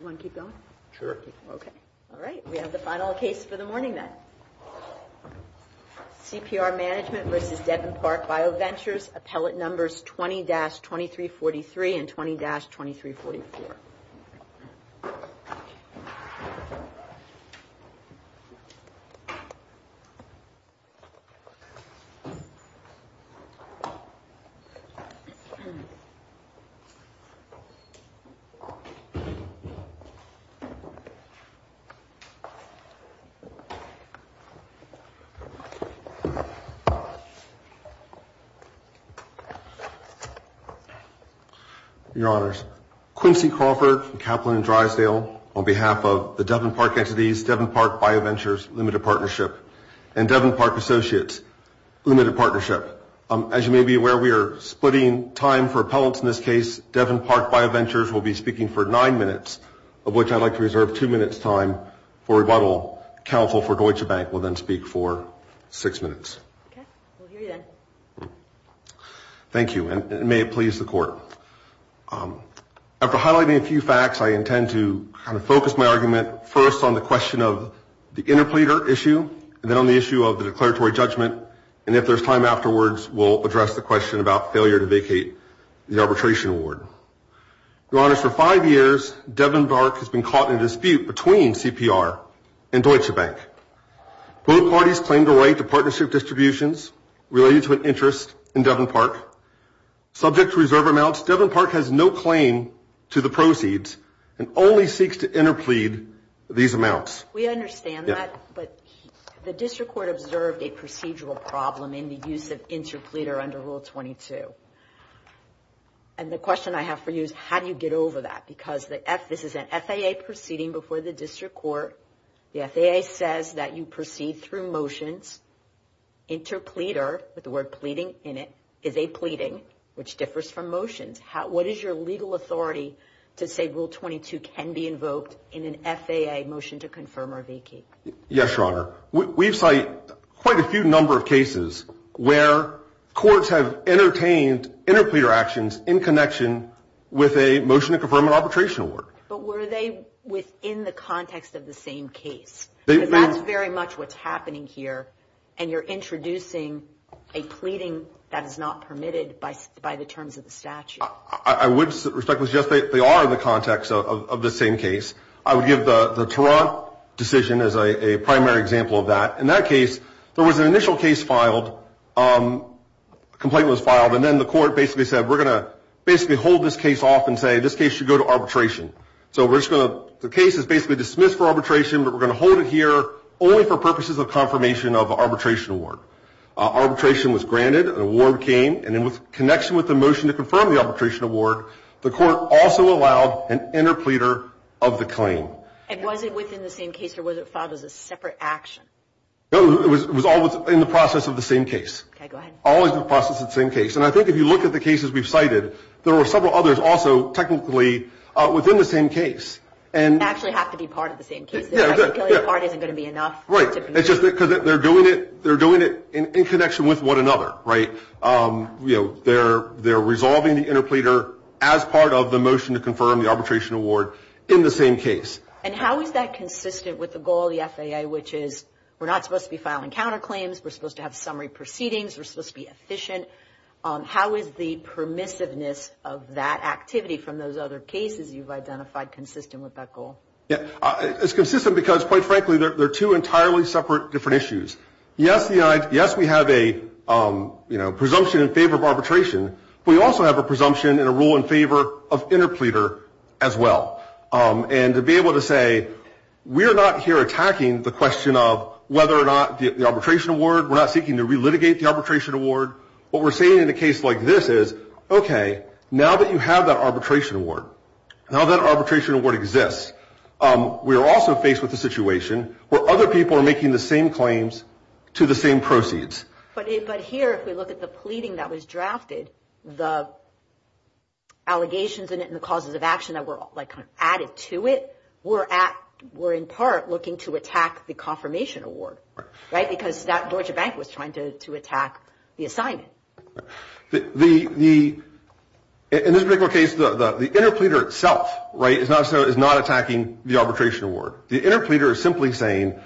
You want to keep going? Sure. Okay. All right, we have the final case for the morning then. CPR Management v. Devon Park Bioventures, appellate numbers 20-2343 and 20-2344. Your Honors, Quincy Crawford from Kaplan and Drysdale on behalf of the Devon Park Entities, Devon Park Bioventures Limited Partnership and Devon Park Associates Limited Partnership. As you may be aware, we are splitting time for appellants in this case. Devon Park Bioventures will be speaking for nine minutes, of which I'd like to reserve two minutes time for rebuttal. Counsel for Deutsche Bank will then speak for six minutes. Okay, we'll hear you then. Thank you, and may it please the Court. After highlighting a few facts, I intend to kind of focus my argument first on the question of the interpleader issue, and then on the issue of the declaratory judgment. And if there's time afterwards, we'll address the question about failure to vacate the arbitration award. Your Honors, for five years, Devon Park has been caught in a dispute between CPR and Deutsche Bank. Both parties claimed a right to partnership distributions related to an interest in Devon Park. Subject to reserve amounts, Devon Park has no claim to the proceeds and only seeks to interplead these amounts. We understand that, but the District Court observed a procedural problem in the use of interpleader under Rule 22. And the question I have for you is, how do you get over that? Because this is an FAA proceeding before the District Court. The FAA says that you proceed through motions. Interpleader, with the word pleading in it, is a pleading, which differs from motions. What is your legal authority to say Rule 22 can be invoked in an FAA motion to confirm or vacate? Yes, Your Honor. We've cited quite a few number of cases where courts have entertained interpleader actions in connection with a motion to confirm an arbitration award. But were they within the context of the same case? Because that's very much what's happening here, and you're introducing a pleading that is not permitted by the terms of the statute. I would respectfully suggest they are in the context of the same case. I would give the Tarrant decision as a primary example of that. In that case, there was an initial case filed, a complaint was filed, and then the court basically said, we're going to basically hold this case off and say this case should go to arbitration. So we're just going to, the case is basically dismissed for arbitration, but we're going to hold it here only for purposes of confirmation of an arbitration award. Arbitration was granted, an award came, and in connection with the motion to confirm the arbitration award, the court also allowed an interpleader of the claim. And was it within the same case, or was it filed as a separate action? No, it was all in the process of the same case. Okay, go ahead. Always in the process of the same case. And I think if you look at the cases we've cited, there were several others also technically within the same case. Actually have to be part of the same case. Part isn't going to be enough. Right. It's just because they're doing it in connection with one another, right? They're resolving the interpleader as part of the motion to confirm the arbitration award in the same case. And how is that consistent with the goal of the FAA, which is we're not supposed to be filing counterclaims, we're supposed to have summary proceedings, we're supposed to be efficient. How is the permissiveness of that activity from those other cases you've identified consistent with that goal? It's consistent because, quite frankly, they're two entirely separate different issues. Yes, we have a presumption in favor of arbitration, but we also have a presumption and a rule in favor of interpleader as well. And to be able to say we're not here attacking the question of whether or not the arbitration award, we're not seeking to relitigate the arbitration award. What we're saying in a case like this is, okay, now that you have that arbitration award, now that arbitration award exists, we are also faced with a situation where other people are making the same claims to the same proceeds. But here, if we look at the pleading that was drafted, the allegations in it and the causes of action that were added to it, we're in part looking to attack the confirmation award, right, because that Deutsche Bank was trying to attack the assignment. In this particular case, the interpleader itself, right, is not attacking the arbitration award. The interpleader is simply saying,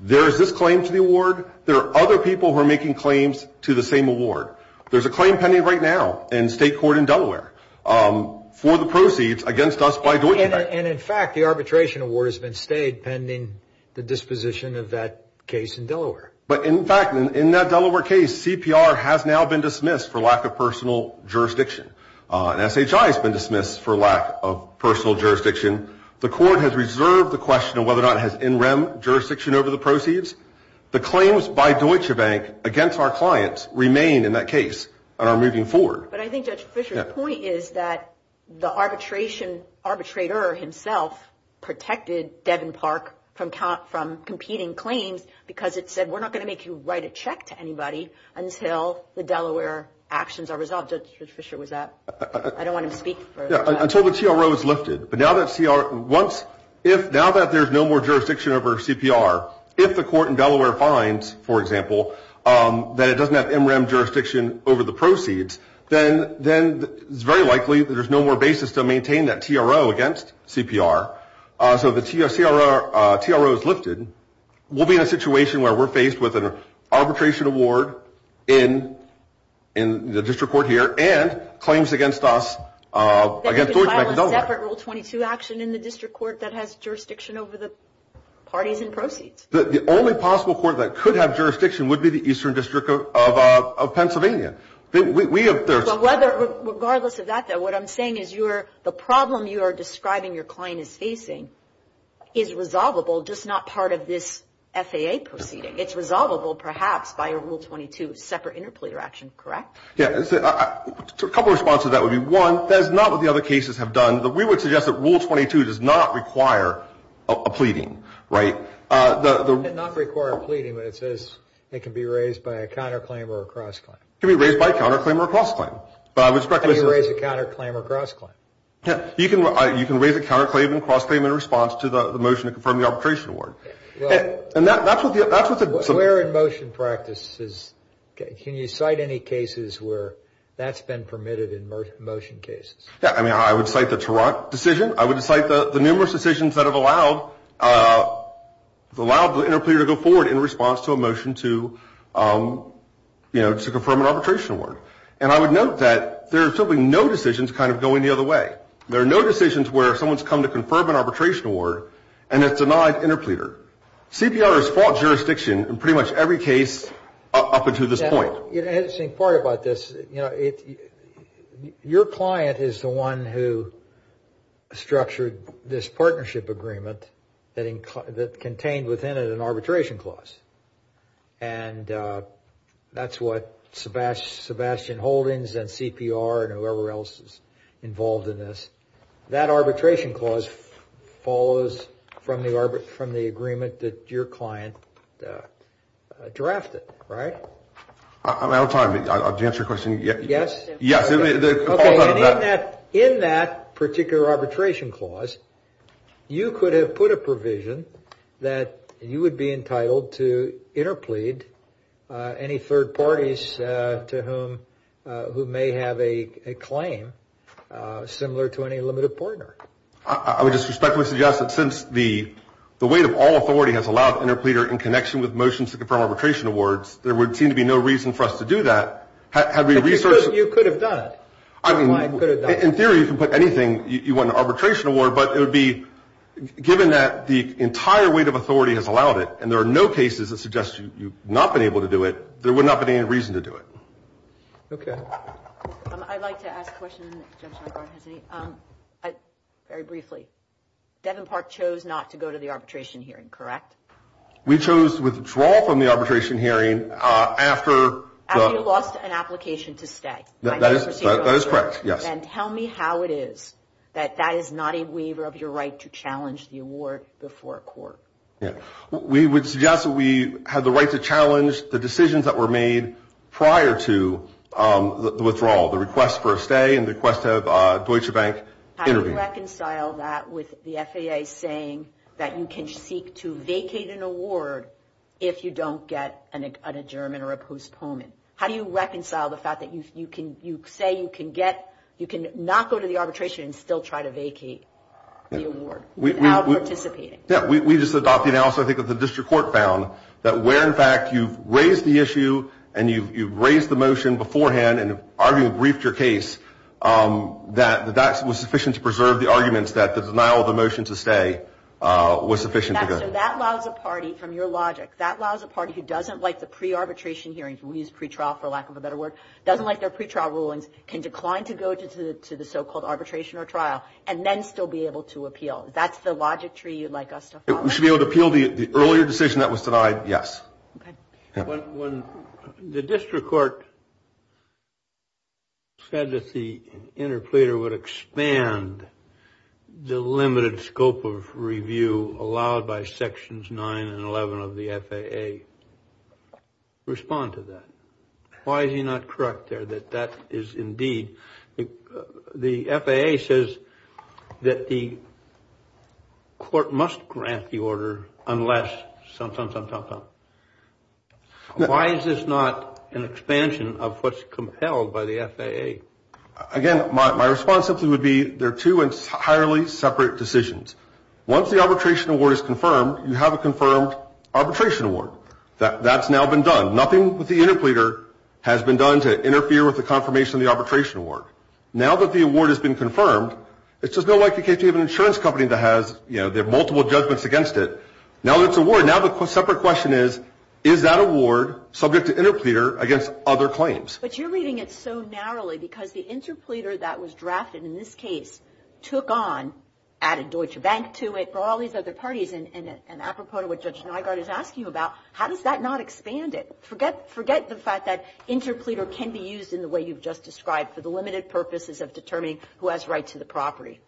there is this claim to the award, there are other people who are making claims to the same award. There's a claim pending right now in state court in Delaware for the proceeds against us by Deutsche Bank. And, in fact, the arbitration award has been stayed pending the disposition of that case in Delaware. But, in fact, in that Delaware case, CPR has now been dismissed for lack of personal jurisdiction. SHI has been dismissed for lack of personal jurisdiction. The court has reserved the question of whether or not it has NREM jurisdiction over the proceeds. The claims by Deutsche Bank against our clients remain in that case and are moving forward. But I think Judge Fischer's point is that the arbitrator himself protected Devin Park from competing claims because it said, we're not going to make you write a check to anybody until the Delaware actions are resolved. Judge Fischer, was that – I don't want him to speak. Until the TRO is lifted. Now that there's no more jurisdiction over CPR, if the court in Delaware finds, for example, that it doesn't have NREM jurisdiction over the proceeds, then it's very likely that there's no more basis to maintain that TRO against CPR. So if the TRO is lifted, we'll be in a situation where we're faced with an arbitration award in the district court here You can file a separate Rule 22 action in the district court that has jurisdiction over the parties and proceeds. The only possible court that could have jurisdiction would be the Eastern District of Pennsylvania. Regardless of that, though, what I'm saying is the problem you are describing your client is facing is resolvable, just not part of this FAA proceeding. It's resolvable, perhaps, by a Rule 22 separate interpleader action, correct? Yeah. A couple of responses to that would be, one, that is not what the other cases have done. We would suggest that Rule 22 does not require a pleading, right? It does not require a pleading, but it says it can be raised by a counterclaim or a cross-claim. It can be raised by a counterclaim or a cross-claim. How do you raise a counterclaim or a cross-claim? You can raise a counterclaim and cross-claim in response to the motion to confirm the arbitration award. We're in motion practices. Can you cite any cases where that's been permitted in motion cases? Yeah. I mean, I would cite the Toronto decision. I would cite the numerous decisions that have allowed the interpleader to go forward in response to a motion to, you know, to confirm an arbitration award. And I would note that there are simply no decisions kind of going the other way. There are no decisions where someone's come to confirm an arbitration award and it's denied interpleader. CPR has fought jurisdiction in pretty much every case up until this point. You know, the interesting part about this, you know, your client is the one who structured this partnership agreement that contained within it an arbitration clause. And that's what Sebastian Holdings and CPR and whoever else is involved in this, that arbitration clause follows from the agreement that your client drafted, right? I'm sorry. Did you answer your question? Yes. Yes. Okay. In that particular arbitration clause, you could have put a provision that you would be entitled to interplead any third parties to whom, who may have a claim similar to any limited partner. I would just respectfully suggest that since the weight of all authority has allowed interpleader in connection with motions to confirm arbitration awards, there would seem to be no reason for us to do that. Because you could have done it. I mean, in theory, you can put anything. You want an arbitration award, but it would be given that the entire weight of authority has allowed it and there are no cases that suggest you've not been able to do it, there would not be any reason to do it. Okay. I'd like to ask a question. Very briefly. Devon Park chose not to go to the arbitration hearing, correct? We chose withdrawal from the arbitration hearing after. After you lost an application to stay. That is correct, yes. And tell me how it is that that is not a waiver of your right to challenge the award before court. Yeah. We would suggest that we have the right to challenge the decisions that were made prior to the withdrawal, the request for a stay and the request to have Deutsche Bank intervene. How do you reconcile that with the FAA saying that you can seek to vacate an award if you don't get an adjournment or a postponement? How do you reconcile the fact that you say you can not go to the arbitration and still try to vacate the award without participating? Yeah. We just adopt the analysis I think that the district court found that where, in fact, you've raised the issue and you've raised the motion beforehand and argued and briefed your case, that that was sufficient to preserve the arguments that the denial of the motion to stay was sufficient. So that allows a party, from your logic, that allows a party who doesn't like the pre-arbitration hearings, we use pre-trial for lack of a better word, doesn't like their pre-trial rulings, can decline to go to the so-called arbitration or trial and then still be able to appeal. That's the logic tree you'd like us to follow? We should be able to appeal the earlier decision that was denied, yes. Okay. When the district court said that the interpleader would expand the limited scope of review allowed by Sections 9 and 11 of the FAA, respond to that. Why is he not correct there that that is indeed the FAA says that the court must grant the order unless some, some, some, some, some. Why is this not an expansion of what's compelled by the FAA? Again, my response simply would be there are two entirely separate decisions. Once the arbitration award is confirmed, you have a confirmed arbitration award. That's now been done. Nothing with the interpleader has been done to interfere with the confirmation of the arbitration award. Now that the award has been confirmed, it's just no longer the case you have an insurance company that has, you know, there are multiple judgments against it. Now that it's awarded, now the separate question is, is that award subject to interpleader against other claims? But you're reading it so narrowly because the interpleader that was drafted in this case took on, added Deutsche Bank to it, brought all these other parties in it. And apropos to what Judge Nygard is asking you about, how does that not expand it? Forget, forget the fact that interpleader can be used in the way you've just described for the limited purposes of determining who has rights to the property.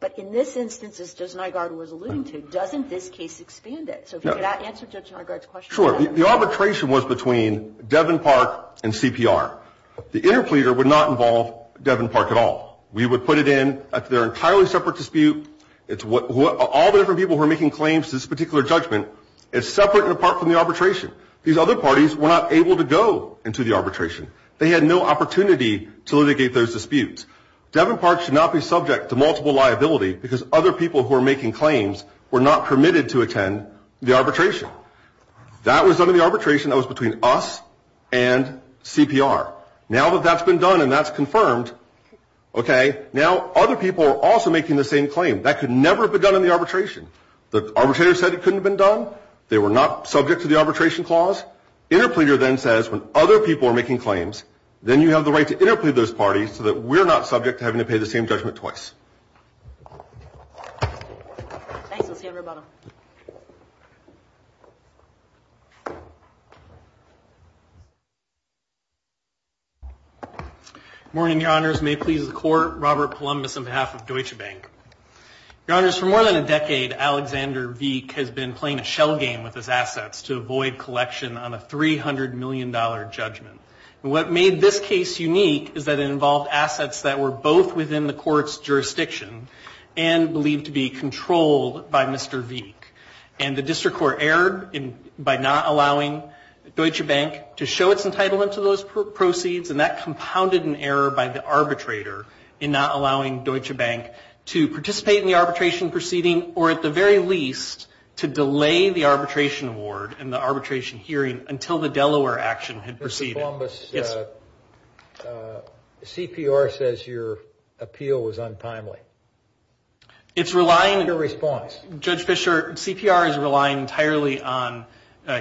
But in this instance, as Judge Nygard was alluding to, doesn't this case expand it? So if you could answer Judge Nygard's question. Sure. The arbitration was between Devon Park and CPR. The interpleader would not involve Devon Park at all. We would put it in. They're an entirely separate dispute. All the different people who are making claims to this particular judgment, it's separate and apart from the arbitration. These other parties were not able to go into the arbitration. They had no opportunity to litigate those disputes. Devon Park should not be subject to multiple liability because other people who are making claims were not permitted to attend the arbitration. That was under the arbitration that was between us and CPR. Now that that's been done and that's confirmed, okay, now other people are also making the same claim. That could never have been done in the arbitration. The arbitrator said it couldn't have been done. They were not subject to the arbitration clause. Interpleader then says when other people are making claims, then you have the right to interplead those parties so that we're not subject to having to pay the same judgment twice. Thanks, Associate Roboto. Good morning, Your Honors. May it please the Court, Robert Columbus on behalf of Deutsche Bank. Your Honors, for more than a decade, Alexander Wieck has been playing a shell game with his assets to avoid collection on a $300 million judgment. What made this case unique is that it involved assets that were both within the court's jurisdiction and believed to be controlled by Mr. Wieck. And the district court erred by not allowing Deutsche Bank to show its entitlement to those proceeds, and that compounded an error by the arbitrator in not allowing Deutsche Bank to participate in the arbitration proceeding or at the very least to delay the arbitration award and the arbitration hearing until the Delaware action had proceeded. Mr. Columbus, CPR says your appeal was untimely. It's relying... No response. Judge Fischer, CPR is relying entirely on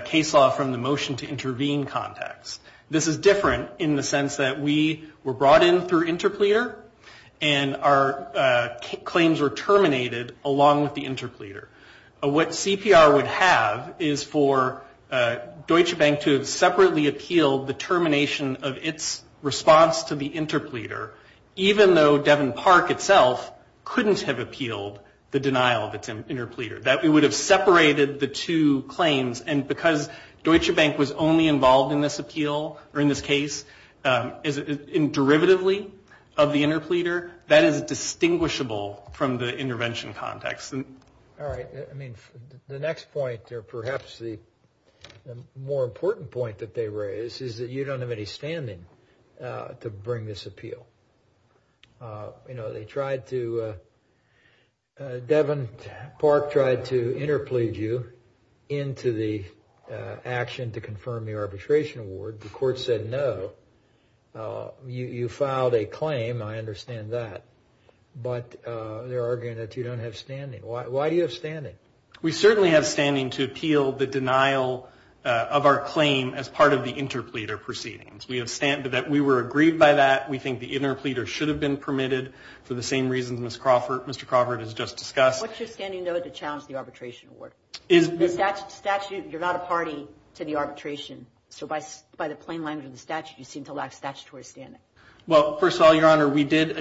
case law from the motion to intervene context. This is different in the sense that we were brought in through interpleader and our claims were terminated along with the interpleader. What CPR would have is for Deutsche Bank to have separately appealed the termination of its response to the interpleader, even though Devin Park itself couldn't have appealed the denial of its interpleader, that we would have separated the two claims. And because Deutsche Bank was only involved in this appeal, or in this case, and derivatively of the interpleader, that is distinguishable from the intervention context. All right. I mean, the next point, or perhaps the more important point that they raise, is that you don't have any standing to bring this appeal. You know, they tried to... Devin Park tried to interplead you into the action to confirm your arbitration award. The court said no. You filed a claim. I understand that. But they're arguing that you don't have standing. Why do you have standing? We certainly have standing to appeal the denial of our claim as part of the interpleader proceedings. We have stand that we were agreed by that. We think the interpleader should have been permitted for the same reasons Mr. Crawford has just discussed. What's your standing, though, to challenge the arbitration award? The statute, you're not a party to the arbitration. So by the plain language of the statute, you seem to lack statutory standing. Well, first of all, Your Honor, we did...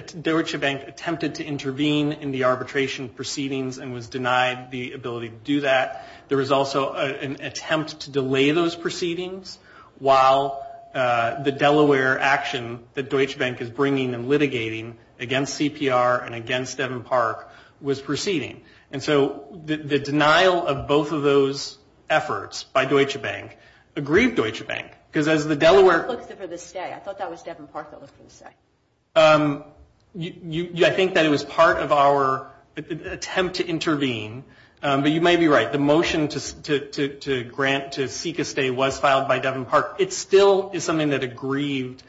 proceedings and was denied the ability to do that. There was also an attempt to delay those proceedings while the Delaware action that Deutsche Bank is bringing and litigating against CPR and against Devin Park was proceeding. And so the denial of both of those efforts by Deutsche Bank aggrieved Deutsche Bank because as the Delaware... I thought that was Devin Park that was for the stay. I think that it was part of our attempt to intervene. But you may be right. The motion to seek a stay was filed by Devin Park. It still is something that aggrieved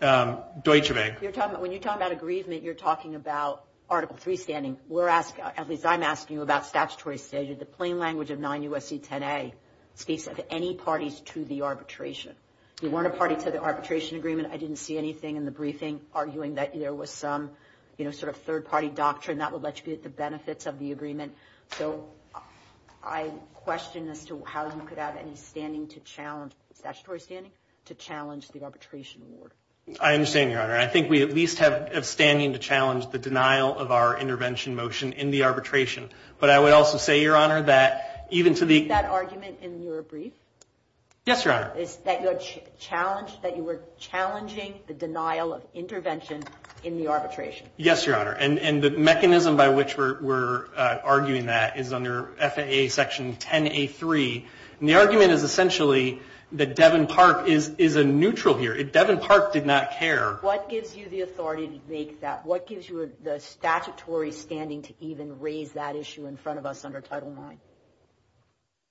Deutsche Bank. When you're talking about aggrievement, you're talking about Article 3 standing. At least I'm asking you about statutory standing. The plain language of 9 U.S.C. 10A speaks of any parties to the arbitration. We weren't a party to the arbitration agreement. I didn't see anything in the briefing arguing that there was some sort of third-party doctrine that would let you get the benefits of the agreement. So I question as to how you could have any standing to challenge... statutory standing to challenge the arbitration award. I understand, Your Honor. I think we at least have standing to challenge the denial of our intervention motion in the arbitration. But I would also say, Your Honor, that even to the... Is that argument in your brief? Yes, Your Honor. Is that you were challenging the denial of intervention in the arbitration? Yes, Your Honor. And the mechanism by which we're arguing that is under FAA Section 10A3. And the argument is essentially that Devin Park is a neutral here. Devin Park did not care. What gives you the authority to make that? What gives you the statutory standing to even raise that issue in front of us under Title IX?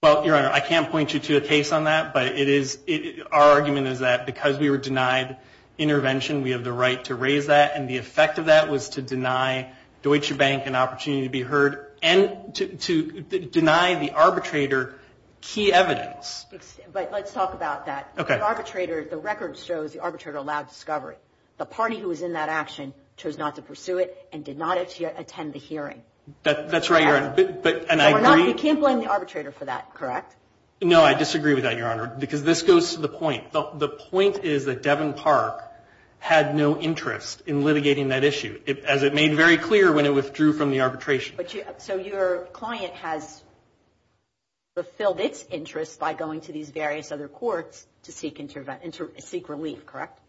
Well, Your Honor, I can't point you to a case on that, but our argument is that because we were denied intervention, we have the right to raise that. And the effect of that was to deny Deutsche Bank an opportunity to be heard and to deny the arbitrator key evidence. But let's talk about that. Okay. The record shows the arbitrator allowed discovery. The party who was in that action chose not to pursue it and did not attend the hearing. That's right, Your Honor. You can't blame the arbitrator for that, correct? No, I disagree with that, Your Honor, because this goes to the point. The point is that Devin Park had no interest in litigating that issue, as it made very clear when it withdrew from the arbitration. So your client has fulfilled its interest by going to these various other courts to seek relief, correct?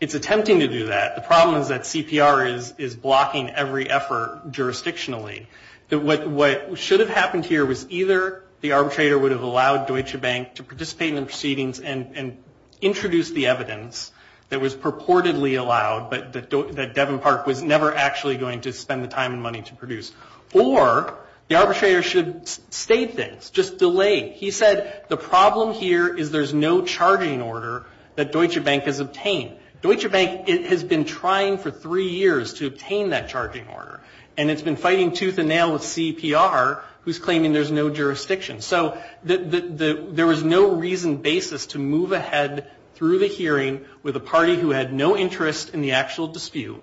It's attempting to do that. The problem is that CPR is blocking every effort jurisdictionally. What should have happened here was either the arbitrator would have allowed Deutsche Bank to participate in the proceedings and introduce the evidence that was purportedly allowed, but that Devin Park was never actually going to spend the time and money to produce, or the arbitrator should have stayed there, just delayed. He said the problem here is there's no charging order that Deutsche Bank has obtained. Deutsche Bank has been trying for three years to obtain that charging order, and it's been fighting tooth and nail with CPR, who's claiming there's no jurisdiction. So there was no reason basis to move ahead through the hearing with a party who had no interest in the actual dispute,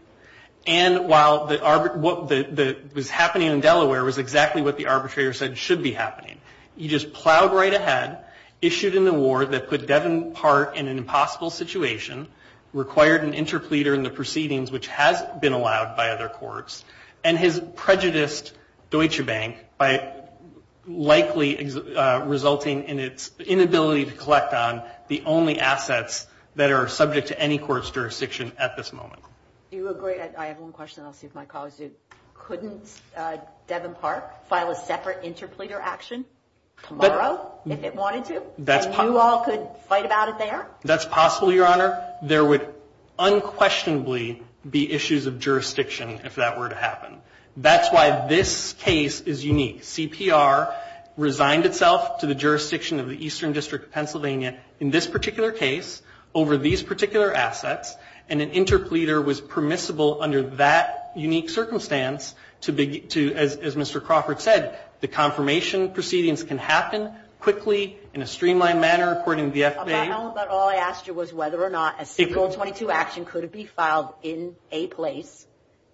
and while what was happening in Delaware was exactly what the arbitrator said should be happening. He just plowed right ahead, issued an award that put Devin Park in an impossible situation, required an interpleader in the proceedings, which has been allowed by other courts, and has prejudiced Deutsche Bank by likely resulting in its inability to collect on the only assets that are subject to any court's jurisdiction at this moment. Do you agree? I have one question, and I'll see if my colleagues do. Couldn't Devin Park file a separate interpleader action tomorrow if it wanted to, and you all could fight about it there? That's possible, Your Honor. There would unquestionably be issues of jurisdiction if that were to happen. That's why this case is unique. CPR resigned itself to the jurisdiction of the Eastern District of Pennsylvania in this particular case over these particular assets, and an interpleader was permissible under that unique circumstance to, as Mr. Crawford said, the confirmation proceedings can happen quickly in a streamlined manner according to the FBA. But all I asked you was whether or not a SQL 22 action could be filed in a place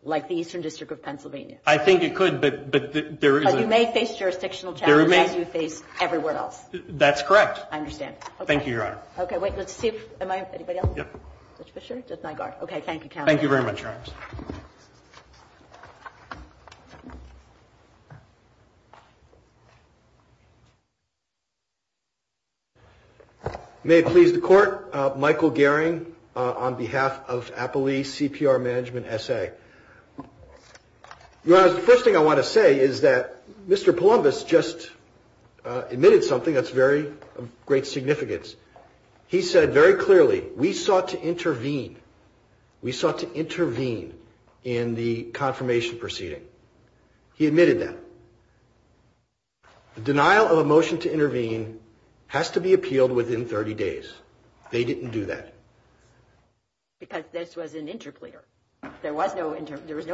like the Eastern District of Pennsylvania. I think it could, but there is a – But you may face jurisdictional challenges as you face everywhere else. That's correct. I understand. Thank you, Your Honor. Okay. Wait. Let's see if – am I – anybody else? Yep. Judge Fischer? Judge Nygaard? Okay. Thank you, Counselor. Thank you very much, Your Honor. Thank you very much. May it please the Court. Michael Gehring on behalf of Appley CPR Management S.A. Your Honor, the first thing I want to say is that Mr. Poulombis just admitted something that's very – of great significance. He said very clearly, we sought to intervene. We sought to intervene in the confirmation proceeding. He admitted that. The denial of a motion to intervene has to be appealed within 30 days. They didn't do that. Because this was an interclear. There was no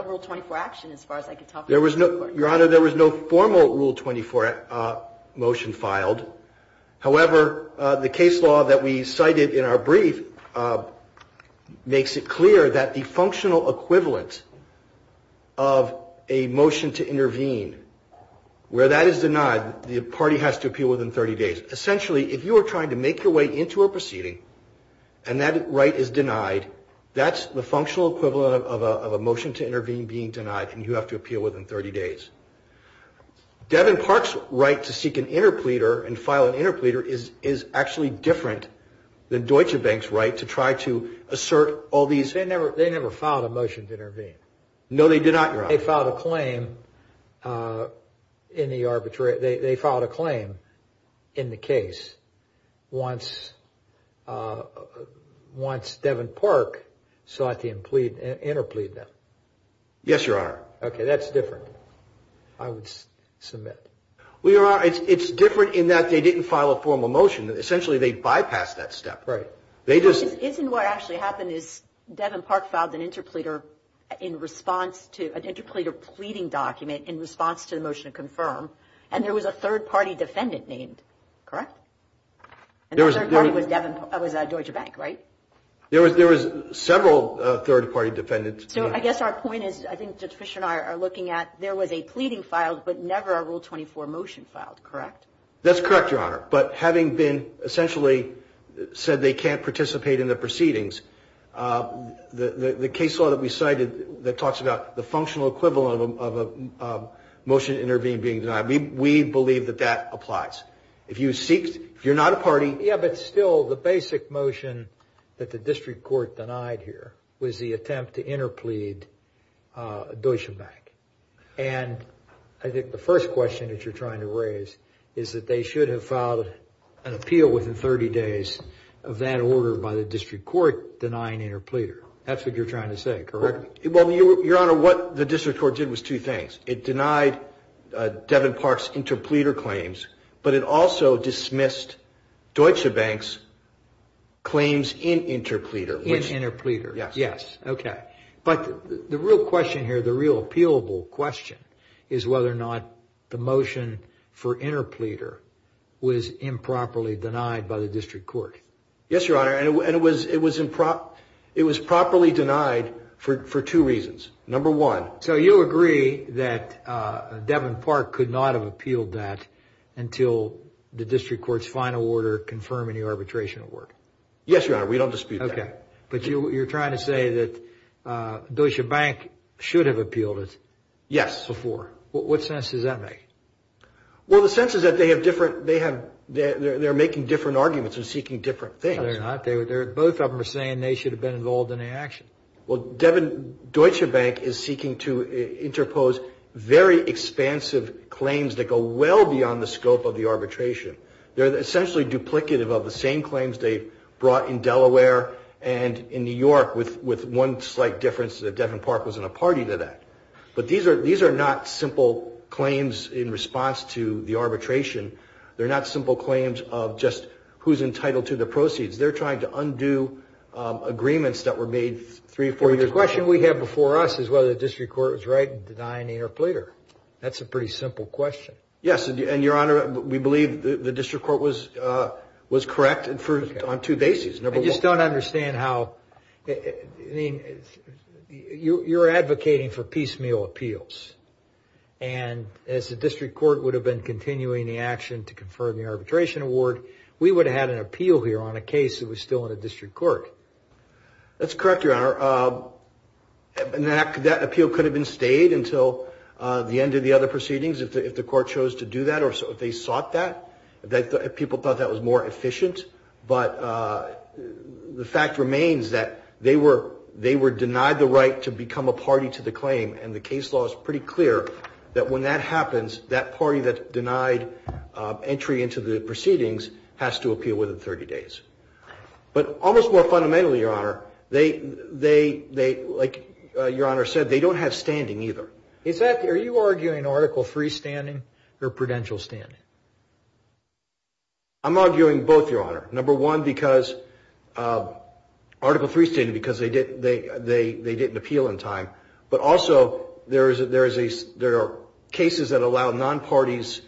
rule 24 action as far as I could tell from the Supreme Court. Your Honor, there was no formal rule 24 motion filed. However, the case law that we cited in our brief makes it clear that the functional equivalent of a motion to intervene, where that is denied, the party has to appeal within 30 days. Essentially, if you are trying to make your way into a proceeding and that right is denied, that's the functional equivalent of a motion to intervene being denied, and you have to appeal within 30 days. Devin Park's right to seek an interpleader and file an interpleader is actually different than Deutsche Bank's right to try to assert all these – They never filed a motion to intervene. No, they did not, Your Honor. They filed a claim in the arbitration – they filed a claim in the case once Devin Park sought to interplead them. Yes, Your Honor. Okay, that's different. I would submit. Well, Your Honor, it's different in that they didn't file a formal motion. Essentially, they bypassed that step. Right. Isn't what actually happened is Devin Park filed an interpleader in response to – an interpleader pleading document in response to the motion to confirm, and there was a third-party defendant named, correct? And the third party was Devin – was Deutsche Bank, right? There was several third-party defendants. So I guess our point is, I think Judge Fischer and I are looking at, there was a pleading filed, but never a Rule 24 motion filed, correct? That's correct, Your Honor. But having been essentially said they can't participate in the proceedings, the case law that we cited that talks about the functional equivalent of a motion to intervene being denied, we believe that that applies. If you seek – if you're not a party – Yeah, but still, the basic motion that the district court denied here was the attempt to interplead Deutsche Bank. And I think the first question that you're trying to raise is that they should have filed an appeal within 30 days of that order by the district court denying interpleader. That's what you're trying to say, correct? Well, Your Honor, what the district court did was two things. It denied Devin Park's interpleader claims, but it also dismissed Deutsche Bank's claims in interpleader. In interpleader. Yes. Yes, okay. But the real question here, the real appealable question is whether or not the motion for interpleader was improperly denied by the district court. Yes, Your Honor. And it was improperly denied for two reasons. Number one. So you agree that Devin Park could not have appealed that until the district court's final order confirming the arbitration award? Yes, Your Honor, we don't dispute that. Okay. But you're trying to say that Deutsche Bank should have appealed it. Yes. Before. What sense does that make? Well, the sense is that they have different – they're making different arguments and seeking different things. No, they're not. Both of them are saying they should have been involved in the action. Well, Devin – Deutsche Bank is seeking to interpose very expansive claims that go well beyond the scope of the arbitration. They're essentially duplicative of the same claims they brought in Delaware and in New York, with one slight difference that Devin Park was in a party to that. But these are not simple claims in response to the arbitration. They're not simple claims of just who's entitled to the proceeds. They're trying to undo agreements that were made three or four years ago. The question we have before us is whether the district court was right in denying Interpolator. That's a pretty simple question. Yes, and, Your Honor, we believe the district court was correct on two bases. I just don't understand how – I mean, you're advocating for piecemeal appeals, and as the district court would have been continuing the action to confirm the arbitration award, we would have had an appeal here on a case that was still in a district court. That's correct, Your Honor. That appeal could have been stayed until the end of the other proceedings if the court chose to do that or if they sought that. People thought that was more efficient. But the fact remains that they were denied the right to become a party to the claim, and the case law is pretty clear that when that happens, that party that denied entry into the proceedings has to appeal within 30 days. But almost more fundamentally, Your Honor, like Your Honor said, they don't have standing either. Are you arguing Article III standing or prudential standing? I'm arguing both, Your Honor. Number one, because Article III is standing because they didn't appeal in time, but also there are cases that allow non-parties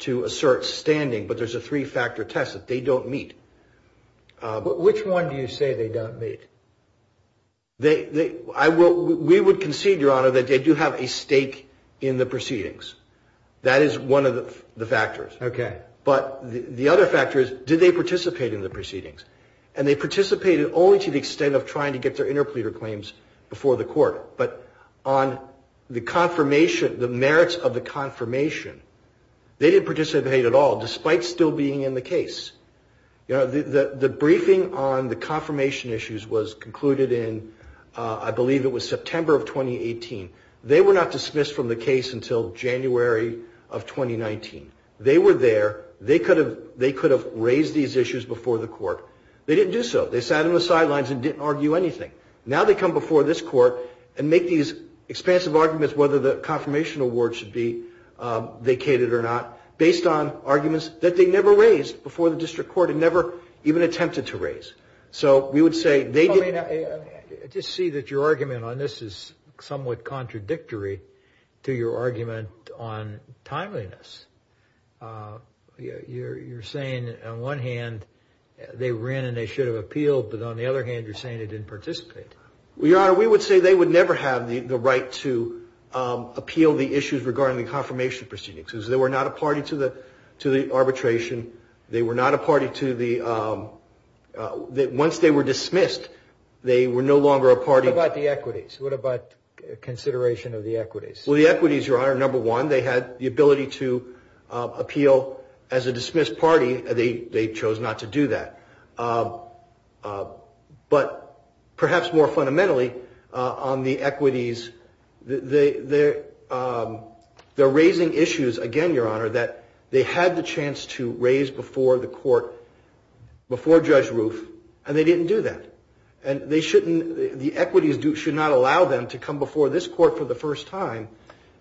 to assert standing, but there's a three-factor test that they don't meet. Which one do you say they don't meet? We would concede, Your Honor, that they do have a stake in the proceedings. That is one of the factors. Okay. But the other factor is, did they participate in the proceedings? And they participated only to the extent of trying to get their interpleader claims before the court. But on the merits of the confirmation, they didn't participate at all despite still being in the case. The briefing on the confirmation issues was concluded in, I believe it was September of 2018. They were not dismissed from the case until January of 2019. They were there. They could have raised these issues before the court. They didn't do so. They sat on the sidelines and didn't argue anything. Now they come before this court and make these expansive arguments whether the confirmation award should be vacated or not, based on arguments that they never raised before the district court and never even attempted to raise. Just see that your argument on this is somewhat contradictory to your argument on timeliness. You're saying on one hand they ran and they should have appealed, but on the other hand you're saying they didn't participate. Your Honor, we would say they would never have the right to appeal the issues regarding the confirmation proceedings. They were not a party to the arbitration. They were not a party to the – once they were dismissed, they were no longer a party. What about the equities? What about consideration of the equities? Well, the equities, Your Honor, number one, they had the ability to appeal as a dismissed party. They chose not to do that. But perhaps more fundamentally, on the equities, they're raising issues again, Your Honor, that they had the chance to raise before the court, before Judge Roof, and they didn't do that. And they shouldn't – the equities should not allow them to come before this court for the first time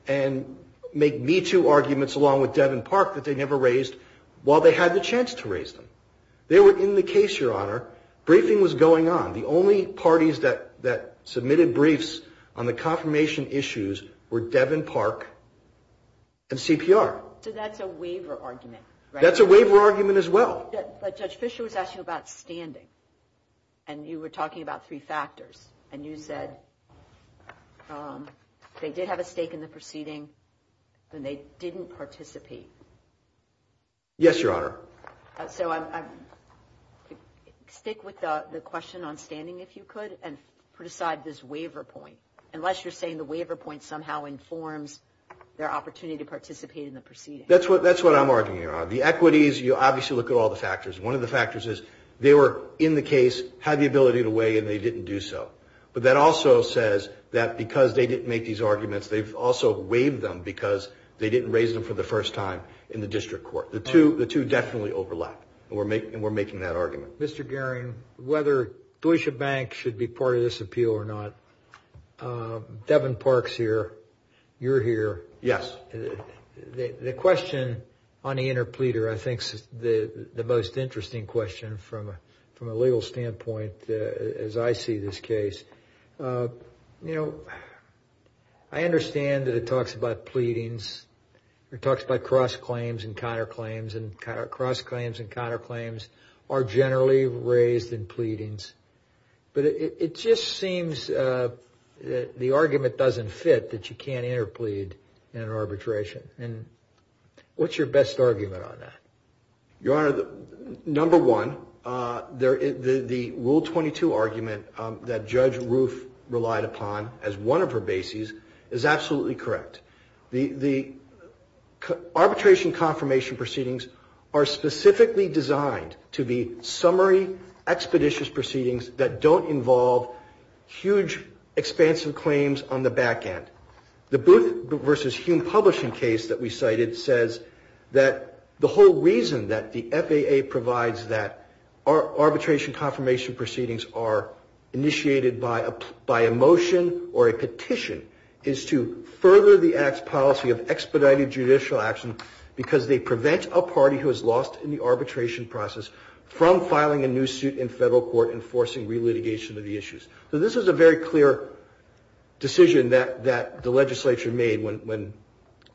and make me-too arguments along with Devin Park that they never raised while they had the chance to raise them. They were in the case, Your Honor. Briefing was going on. The only parties that submitted briefs on the confirmation issues were Devin Park and CPR. So that's a waiver argument, right? That's a waiver argument as well. But Judge Fischer was asking about standing, and you were talking about three factors, and you said they did have a stake in the proceeding and they didn't participate. Yes, Your Honor. So stick with the question on standing, if you could, and put aside this waiver point. Unless you're saying the waiver point somehow informs their opportunity to participate in the proceeding. That's what I'm arguing, Your Honor. The equities, you obviously look at all the factors. One of the factors is they were in the case, had the ability to weigh, and they didn't do so. But that also says that because they didn't make these arguments, they've also waived them because they didn't raise them for the first time in the district court. The two definitely overlap, and we're making that argument. Mr. Goehring, whether Deutsche Bank should be part of this appeal or not, Devin Park's here, you're here. Yes. The question on the interpleader I think is the most interesting question from a legal standpoint, as I see this case. You know, I understand that it talks about pleadings. It talks about cross-claims and counter-claims, and cross-claims and counter-claims are generally raised in pleadings. But it just seems the argument doesn't fit that you can't interplead in an arbitration. And what's your best argument on that? Your Honor, number one, the Rule 22 argument that Judge Roof relied upon as one of her bases is absolutely correct. The arbitration confirmation proceedings are specifically designed to be summary expeditious proceedings that don't involve huge, expansive claims on the back end. The Booth v. Hume publishing case that we cited says that the whole reason that the FAA provides that arbitration confirmation proceedings are initiated by a motion or a petition is to further the Act's policy of expedited judicial action because they prevent a party who is lost in the arbitration process from filing a new suit in federal court and forcing re-litigation of the issues. So this is a very clear decision that the legislature made when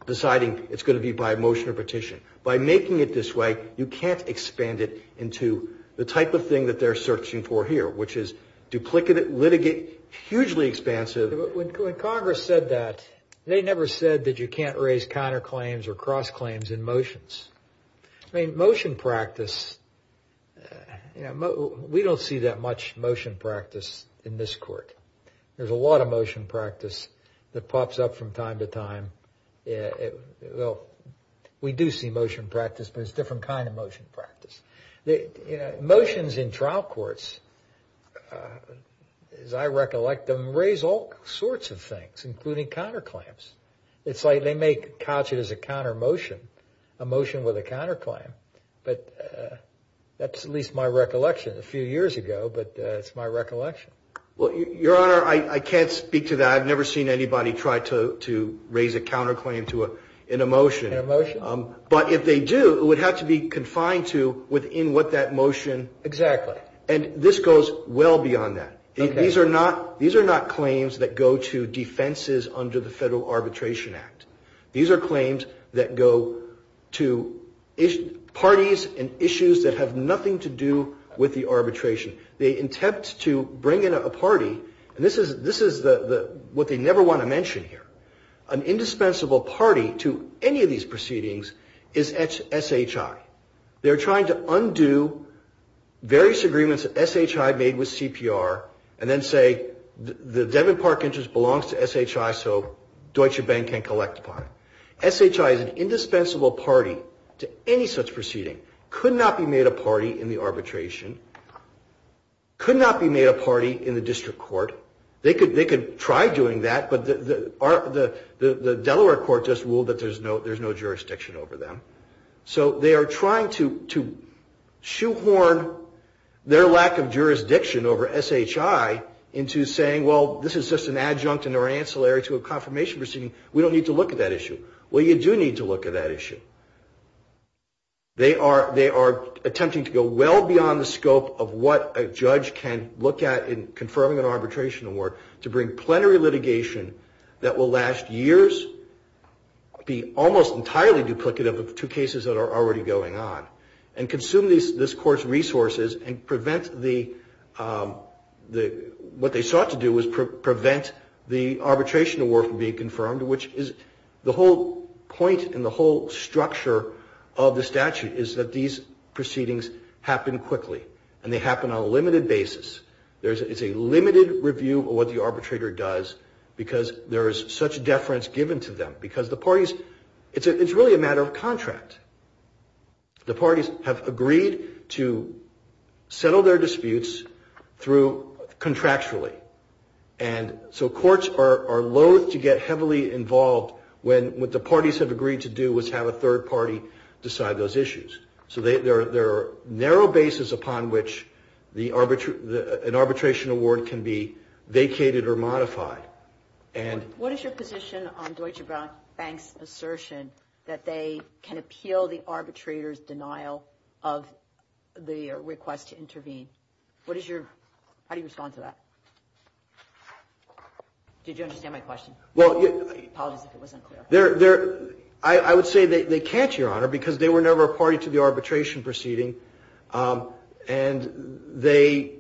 deciding it's going to be by motion or petition. By making it this way, you can't expand it into the type of thing that they're searching for here, which is duplicate litigate, hugely expansive. When Congress said that, they never said that you can't raise counter-claims or cross-claims in motions. I mean, motion practice, we don't see that much motion practice in this court. There's a lot of motion practice that pops up from time to time. Well, we do see motion practice, but it's a different kind of motion practice. Motions in trial courts, as I recollect them, raise all sorts of things, including counter-claims. It's like they may couch it as a counter-motion, a motion with a counter-claim. But that's at least my recollection a few years ago, but it's my recollection. Well, Your Honor, I can't speak to that. I've never seen anybody try to raise a counter-claim in a motion. In a motion? But if they do, it would have to be confined to within what that motion. Exactly. And this goes well beyond that. These are not claims that go to defenses under the Federal Arbitration Act. These are claims that go to parties and issues that have nothing to do with the arbitration. They attempt to bring in a party, and this is what they never want to mention here. An indispensable party to any of these proceedings is SHI. They're trying to undo various agreements that SHI made with CPR and then say the Devon Park interest belongs to SHI, so Deutsche Bank can't collect it. SHI is an indispensable party to any such proceeding. Could not be made a party in the arbitration. Could not be made a party in the district court. They could try doing that, but the Delaware court just ruled that there's no jurisdiction over them. So they are trying to shoehorn their lack of jurisdiction over SHI into saying, well, this is just an adjunct and or ancillary to a confirmation proceeding. We don't need to look at that issue. Well, you do need to look at that issue. They are attempting to go well beyond the scope of what a judge can look at in confirming an arbitration award to bring plenary litigation that will last years, be almost entirely duplicative of the two cases that are already going on, and consume this court's resources and prevent the, what they sought to do was prevent the arbitration award from being confirmed, which is the whole point and the whole structure of the statute is that these proceedings happen quickly, and they happen on a limited basis. It's a limited review of what the arbitrator does because there is such deference given to them, because the parties, it's really a matter of contract. The parties have agreed to settle their disputes through contractually, and so courts are loathe to get heavily involved when what the parties have agreed to do was have a third party decide those issues. So there are narrow bases upon which an arbitration award can be vacated or modified. What is your position on Deutsche Bank's assertion that they can appeal the arbitrator's denial of the request to intervene? How do you respond to that? Did you understand my question? Apologies if it wasn't clear. I would say they can't, Your Honor, because they were never a party to the arbitration proceeding, and they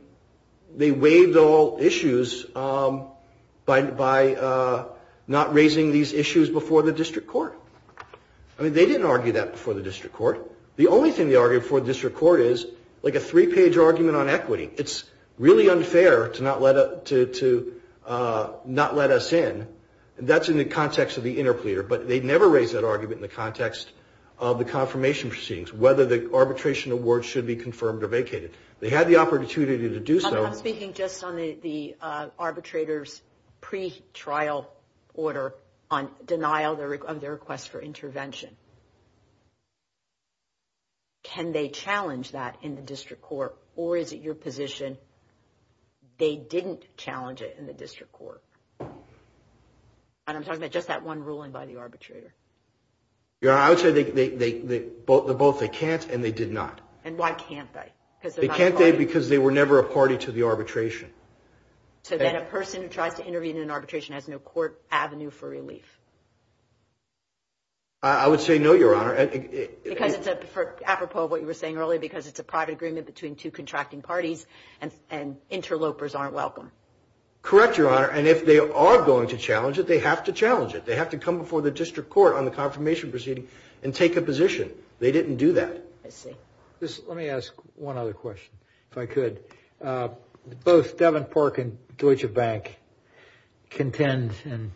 waived all issues by not raising these issues before the district court. I mean, they didn't argue that before the district court. The only thing they argued before the district court is like a three-page argument on equity. It's really unfair to not let us in. That's in the context of the interpleader, but they never raised that argument in the context of the confirmation proceedings, whether the arbitration award should be confirmed or vacated. They had the opportunity to do so. I'm speaking just on the arbitrator's pretrial order on denial of their request for intervention. Can they challenge that in the district court, or is it your position they didn't challenge it in the district court? And I'm talking about just that one ruling by the arbitrator. Your Honor, I would say they're both they can't and they did not. And why can't they? They can't, Dave, because they were never a party to the arbitration. So then a person who tries to intervene in an arbitration has no court avenue for relief? I would say no, Your Honor. Because it's apropos of what you were saying earlier, because it's a private agreement between two contracting parties and interlopers aren't welcome. Correct, Your Honor. And if they are going to challenge it, they have to challenge it. They have to come before the district court on the confirmation proceeding and take a position. They didn't do that. I see. Let me ask one other question, if I could. Both Devon Park and Deutsche Bank contend, and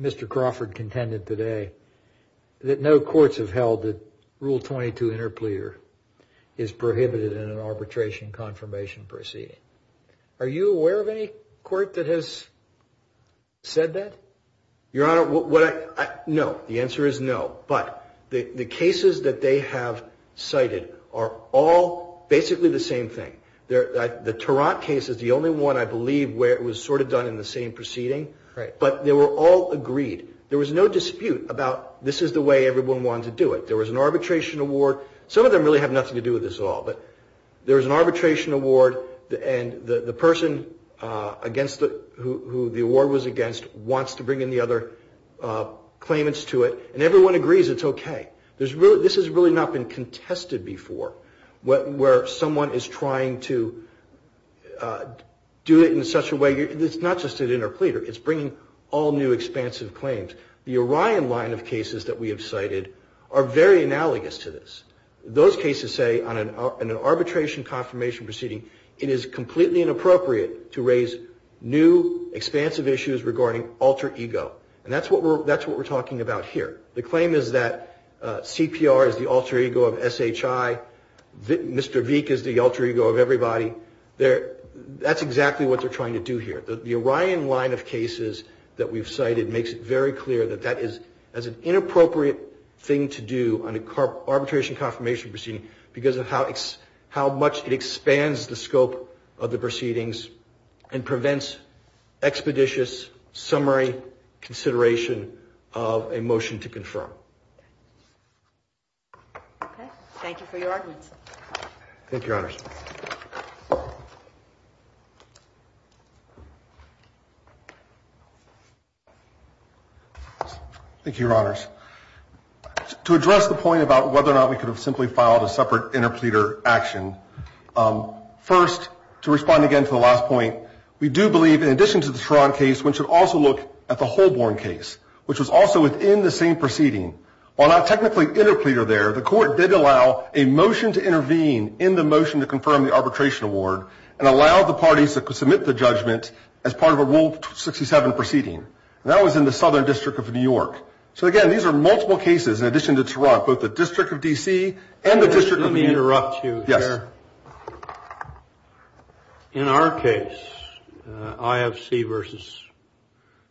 Mr. Crawford contended today, that no courts have held that Rule 22 interplea is prohibited in an arbitration confirmation proceeding. Are you aware of any court that has said that? Your Honor, no. The answer is no. But the cases that they have cited are all basically the same thing. The Tarrant case is the only one, I believe, where it was sort of done in the same proceeding. But they were all agreed. There was no dispute about this is the way everyone wanted to do it. There was an arbitration award. Some of them really have nothing to do with this at all. But there was an arbitration award, and the person who the award was against wants to bring in the other claimants to it. And everyone agrees it's okay. This has really not been contested before, where someone is trying to do it in such a way. It's not just an interplea. It's bringing all new expansive claims. The Orion line of cases that we have cited are very analogous to this. Those cases say, in an arbitration confirmation proceeding, it is completely inappropriate to raise new expansive issues regarding alter ego. And that's what we're talking about here. The claim is that CPR is the alter ego of SHI. Mr. Veek is the alter ego of everybody. That's exactly what they're trying to do here. The Orion line of cases that we've cited makes it very clear that that is an inappropriate thing to do on an arbitration confirmation proceeding because of how much it expands the scope of the proceedings and prevents expeditious summary consideration of a motion to confirm. Okay. Thank you for your arguments. Thank you, Your Honors. Thank you, Your Honors. To address the point about whether or not we could have simply filed a separate interpleader action, first, to respond again to the last point, we do believe, in addition to the Tron case, we should also look at the Holborn case, which was also within the same proceeding. While not technically interpleader there, the court did allow a motion to intervene in the motion to confirm the arbitration award and allow the parties that could submit the judgment as part of a Rule 67 proceeding. That was in the Southern District of New York. So, again, these are multiple cases in addition to both the District of D.C. and the District of New York. Let me interrupt you here. Yes. In our case, IFC versus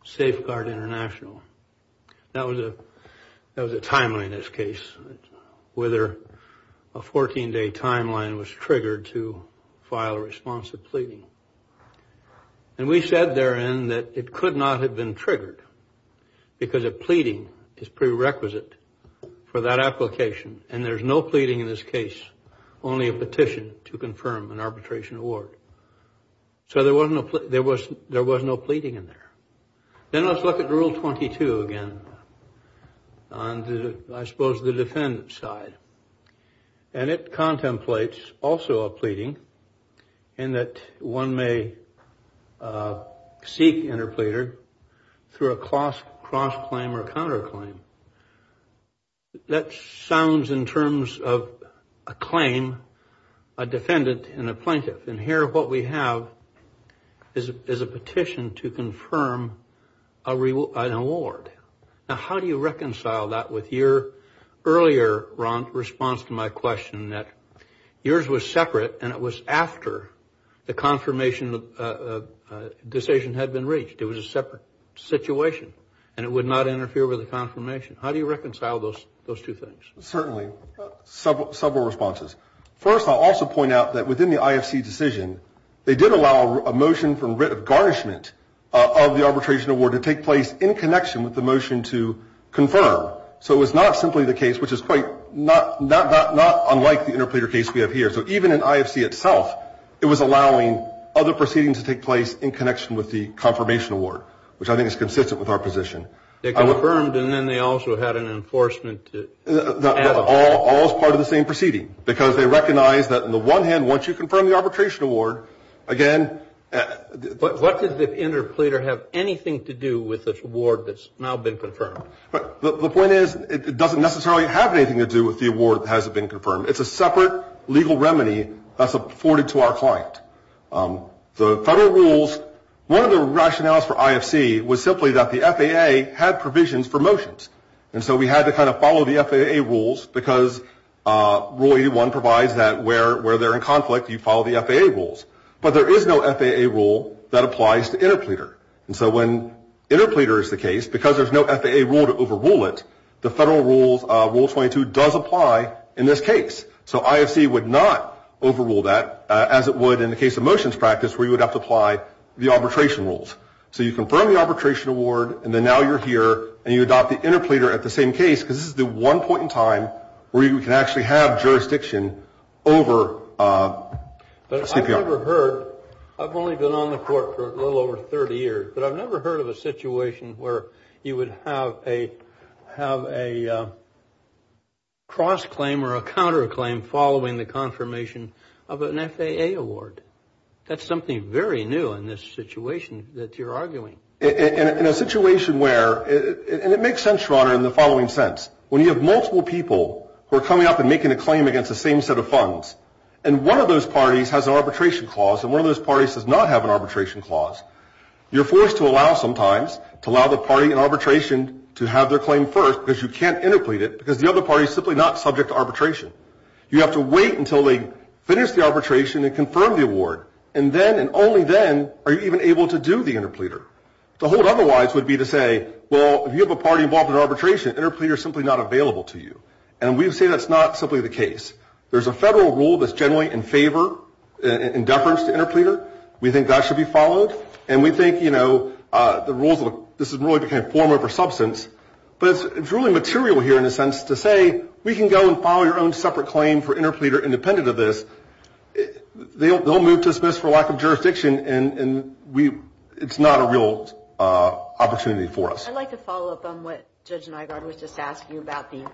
Safeguard International, that was a timeline in this case, whether a 14-day timeline was triggered to file a response to pleading. And we said therein that it could not have been triggered because a pleading is prerequisite for that application. And there's no pleading in this case, only a petition to confirm an arbitration award. So there was no pleading in there. Then let's look at Rule 22 again on, I suppose, the defendant's side. And it contemplates also a pleading in that one may seek interpleader through a cross-claim or counterclaim. That sounds in terms of a claim, a defendant, and a plaintiff. And here what we have is a petition to confirm an award. Now, how do you reconcile that with your earlier response to my question that yours was separate and it was after the confirmation decision had been reached? It was a separate situation and it would not interfere with the confirmation. How do you reconcile those two things? Certainly, several responses. First, I'll also point out that within the IFC decision, they did allow a motion for writ of garnishment of the arbitration award to take place in connection with the motion to confirm. So it was not simply the case, which is quite not unlike the interpleader case we have here. So even in IFC itself, it was allowing other proceedings to take place in connection with the confirmation award, which I think is consistent with our position. They confirmed and then they also had an enforcement. All as part of the same proceeding, because they recognized that on the one hand, once you confirm the arbitration award, again. What does the interpleader have anything to do with this award that's now been confirmed? The point is, it doesn't necessarily have anything to do with the award that hasn't been confirmed. It's a separate legal remedy that's afforded to our client. The federal rules, one of the rationales for IFC was simply that the FAA had provisions for motions. And so we had to kind of follow the FAA rules, because Rule 81 provides that where they're in conflict, you follow the FAA rules. But there is no FAA rule that applies to interpleader. And so when interpleader is the case, because there's no FAA rule to overrule it, the federal rules, Rule 22, does apply in this case. So IFC would not overrule that, as it would in the case of motions practice, where you would have to apply the arbitration rules. So you confirm the arbitration award, and then now you're here, and you adopt the interpleader at the same case, because this is the one point in time where you can actually have jurisdiction over CPI. But I've never heard, I've only been on the court for a little over 30 years, but I've never heard of a situation where you would have a cross-claim or a counter-claim following the confirmation of an FAA award. That's something very new in this situation that you're arguing. In a situation where, and it makes sense, Your Honor, in the following sense. When you have multiple people who are coming up and making a claim against the same set of funds, and one of those parties has an arbitration clause, and one of those parties does not have an arbitration clause, you're forced to allow sometimes, to allow the party in arbitration to have their claim first, because you can't interplead it, because the other party is simply not subject to arbitration. You have to wait until they finish the arbitration and confirm the award. And then, and only then, are you even able to do the interpleader. The whole otherwise would be to say, well, if you have a party involved in arbitration, interpleader is simply not available to you. And we say that's not simply the case. There's a federal rule that's generally in favor, in deference to interpleader. We think that should be followed. And we think, you know, the rules, this has really become a form over substance. But it's really material here in a sense to say, we can go and file your own separate claim for interpleader independent of this. They'll move to dismiss for lack of jurisdiction, and we, it's not a real opportunity for us. I'd like to follow up on what Judge Nygaard was just asking you about, the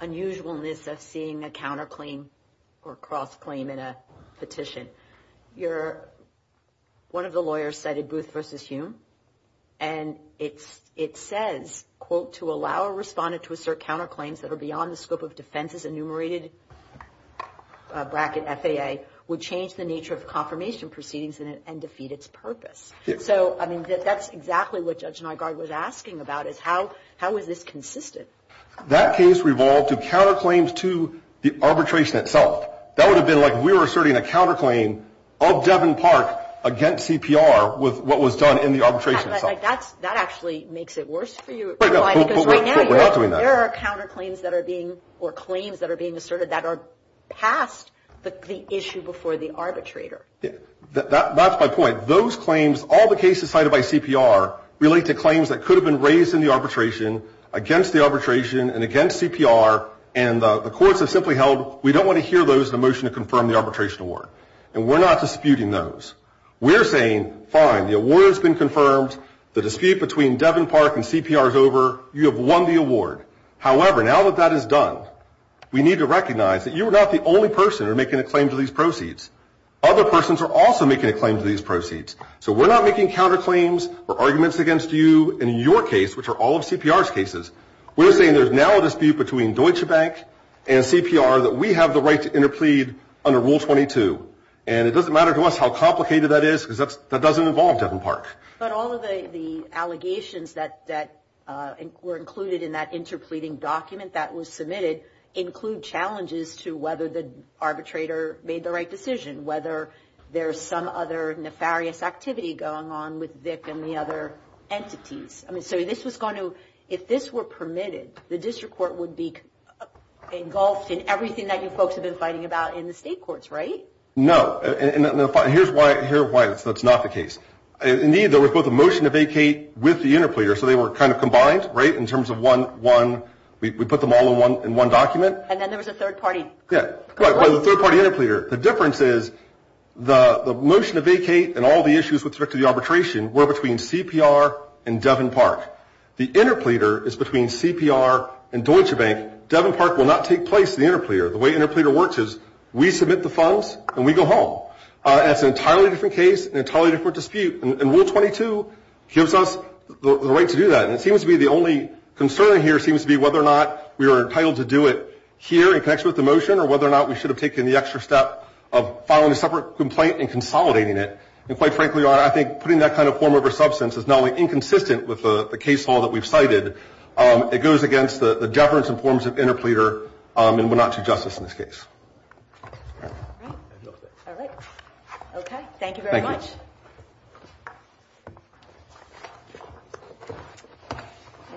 unusualness of seeing a counterclaim or cross-claim in a petition. You're, one of the lawyers cited Booth v. Hume, and it says, quote, to assert counterclaims that are beyond the scope of defense's enumerated bracket, FAA, would change the nature of confirmation proceedings and defeat its purpose. So, I mean, that's exactly what Judge Nygaard was asking about, is how is this consistent? That case revolved to counterclaims to the arbitration itself. That would have been like we were asserting a counterclaim of Devin Park against CPR with what was done in the arbitration itself. But that's, that actually makes it worse for you, because right now, there are counterclaims that are being, or claims that are being asserted that are past the issue before the arbitrator. That's my point. Those claims, all the cases cited by CPR, relate to claims that could have been raised in the arbitration against the arbitration and against CPR, and the courts have simply held, we don't want to hear those in a motion to confirm the arbitration award. And we're not disputing those. We're saying, fine, the award has been confirmed. The dispute between Devin Park and CPR is over. You have won the award. However, now that that is done, we need to recognize that you are not the only person who are making a claim to these proceeds. Other persons are also making a claim to these proceeds. So we're not making counterclaims or arguments against you in your case, which are all of CPR's cases. We're saying there's now a dispute between Deutsche Bank and CPR that we have the right to interplead under Rule 22. And it doesn't matter to us how complicated that is because that doesn't involve Devin Park. But all of the allegations that were included in that interpleading document that was submitted include challenges to whether the arbitrator made the right decision, whether there's some other nefarious activity going on with Vic and the other entities. I mean, so this was going to, if this were permitted, the district court would be engulfed in everything that you folks have been fighting about in the state courts, right? No. And here's why that's not the case. Indeed, there was both a motion to vacate with the interpleader. So they were kind of combined, right, in terms of one. We put them all in one document. And then there was a third party. Well, the third party interpleader. The difference is the motion to vacate and all the issues with respect to the arbitration were between CPR and Devin Park. The interpleader is between CPR and Deutsche Bank. Devin Park will not take place in the interpleader. The way interpleader works is we submit the funds and we go home. That's an entirely different case, an entirely different dispute. And Rule 22 gives us the right to do that. And it seems to be the only concern here seems to be whether or not we are entitled to do it here in connection with the motion or whether or not we should have taken the extra step of filing a separate complaint and consolidating it. And quite frankly, Your Honor, I think putting that kind of form over substance is not only inconsistent with the case law that we've cited, it goes against the deference and forms of interpleader and Wenatchee justice in this case. All right. All right. Okay. Thank you very much. Thank you.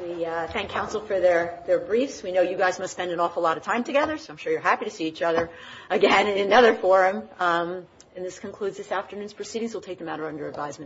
We thank counsel for their briefs. We know you guys must spend an awful lot of time together, so I'm sure you're happy to see each other again in another forum. And this concludes this afternoon's proceedings. We'll take them out under advisement.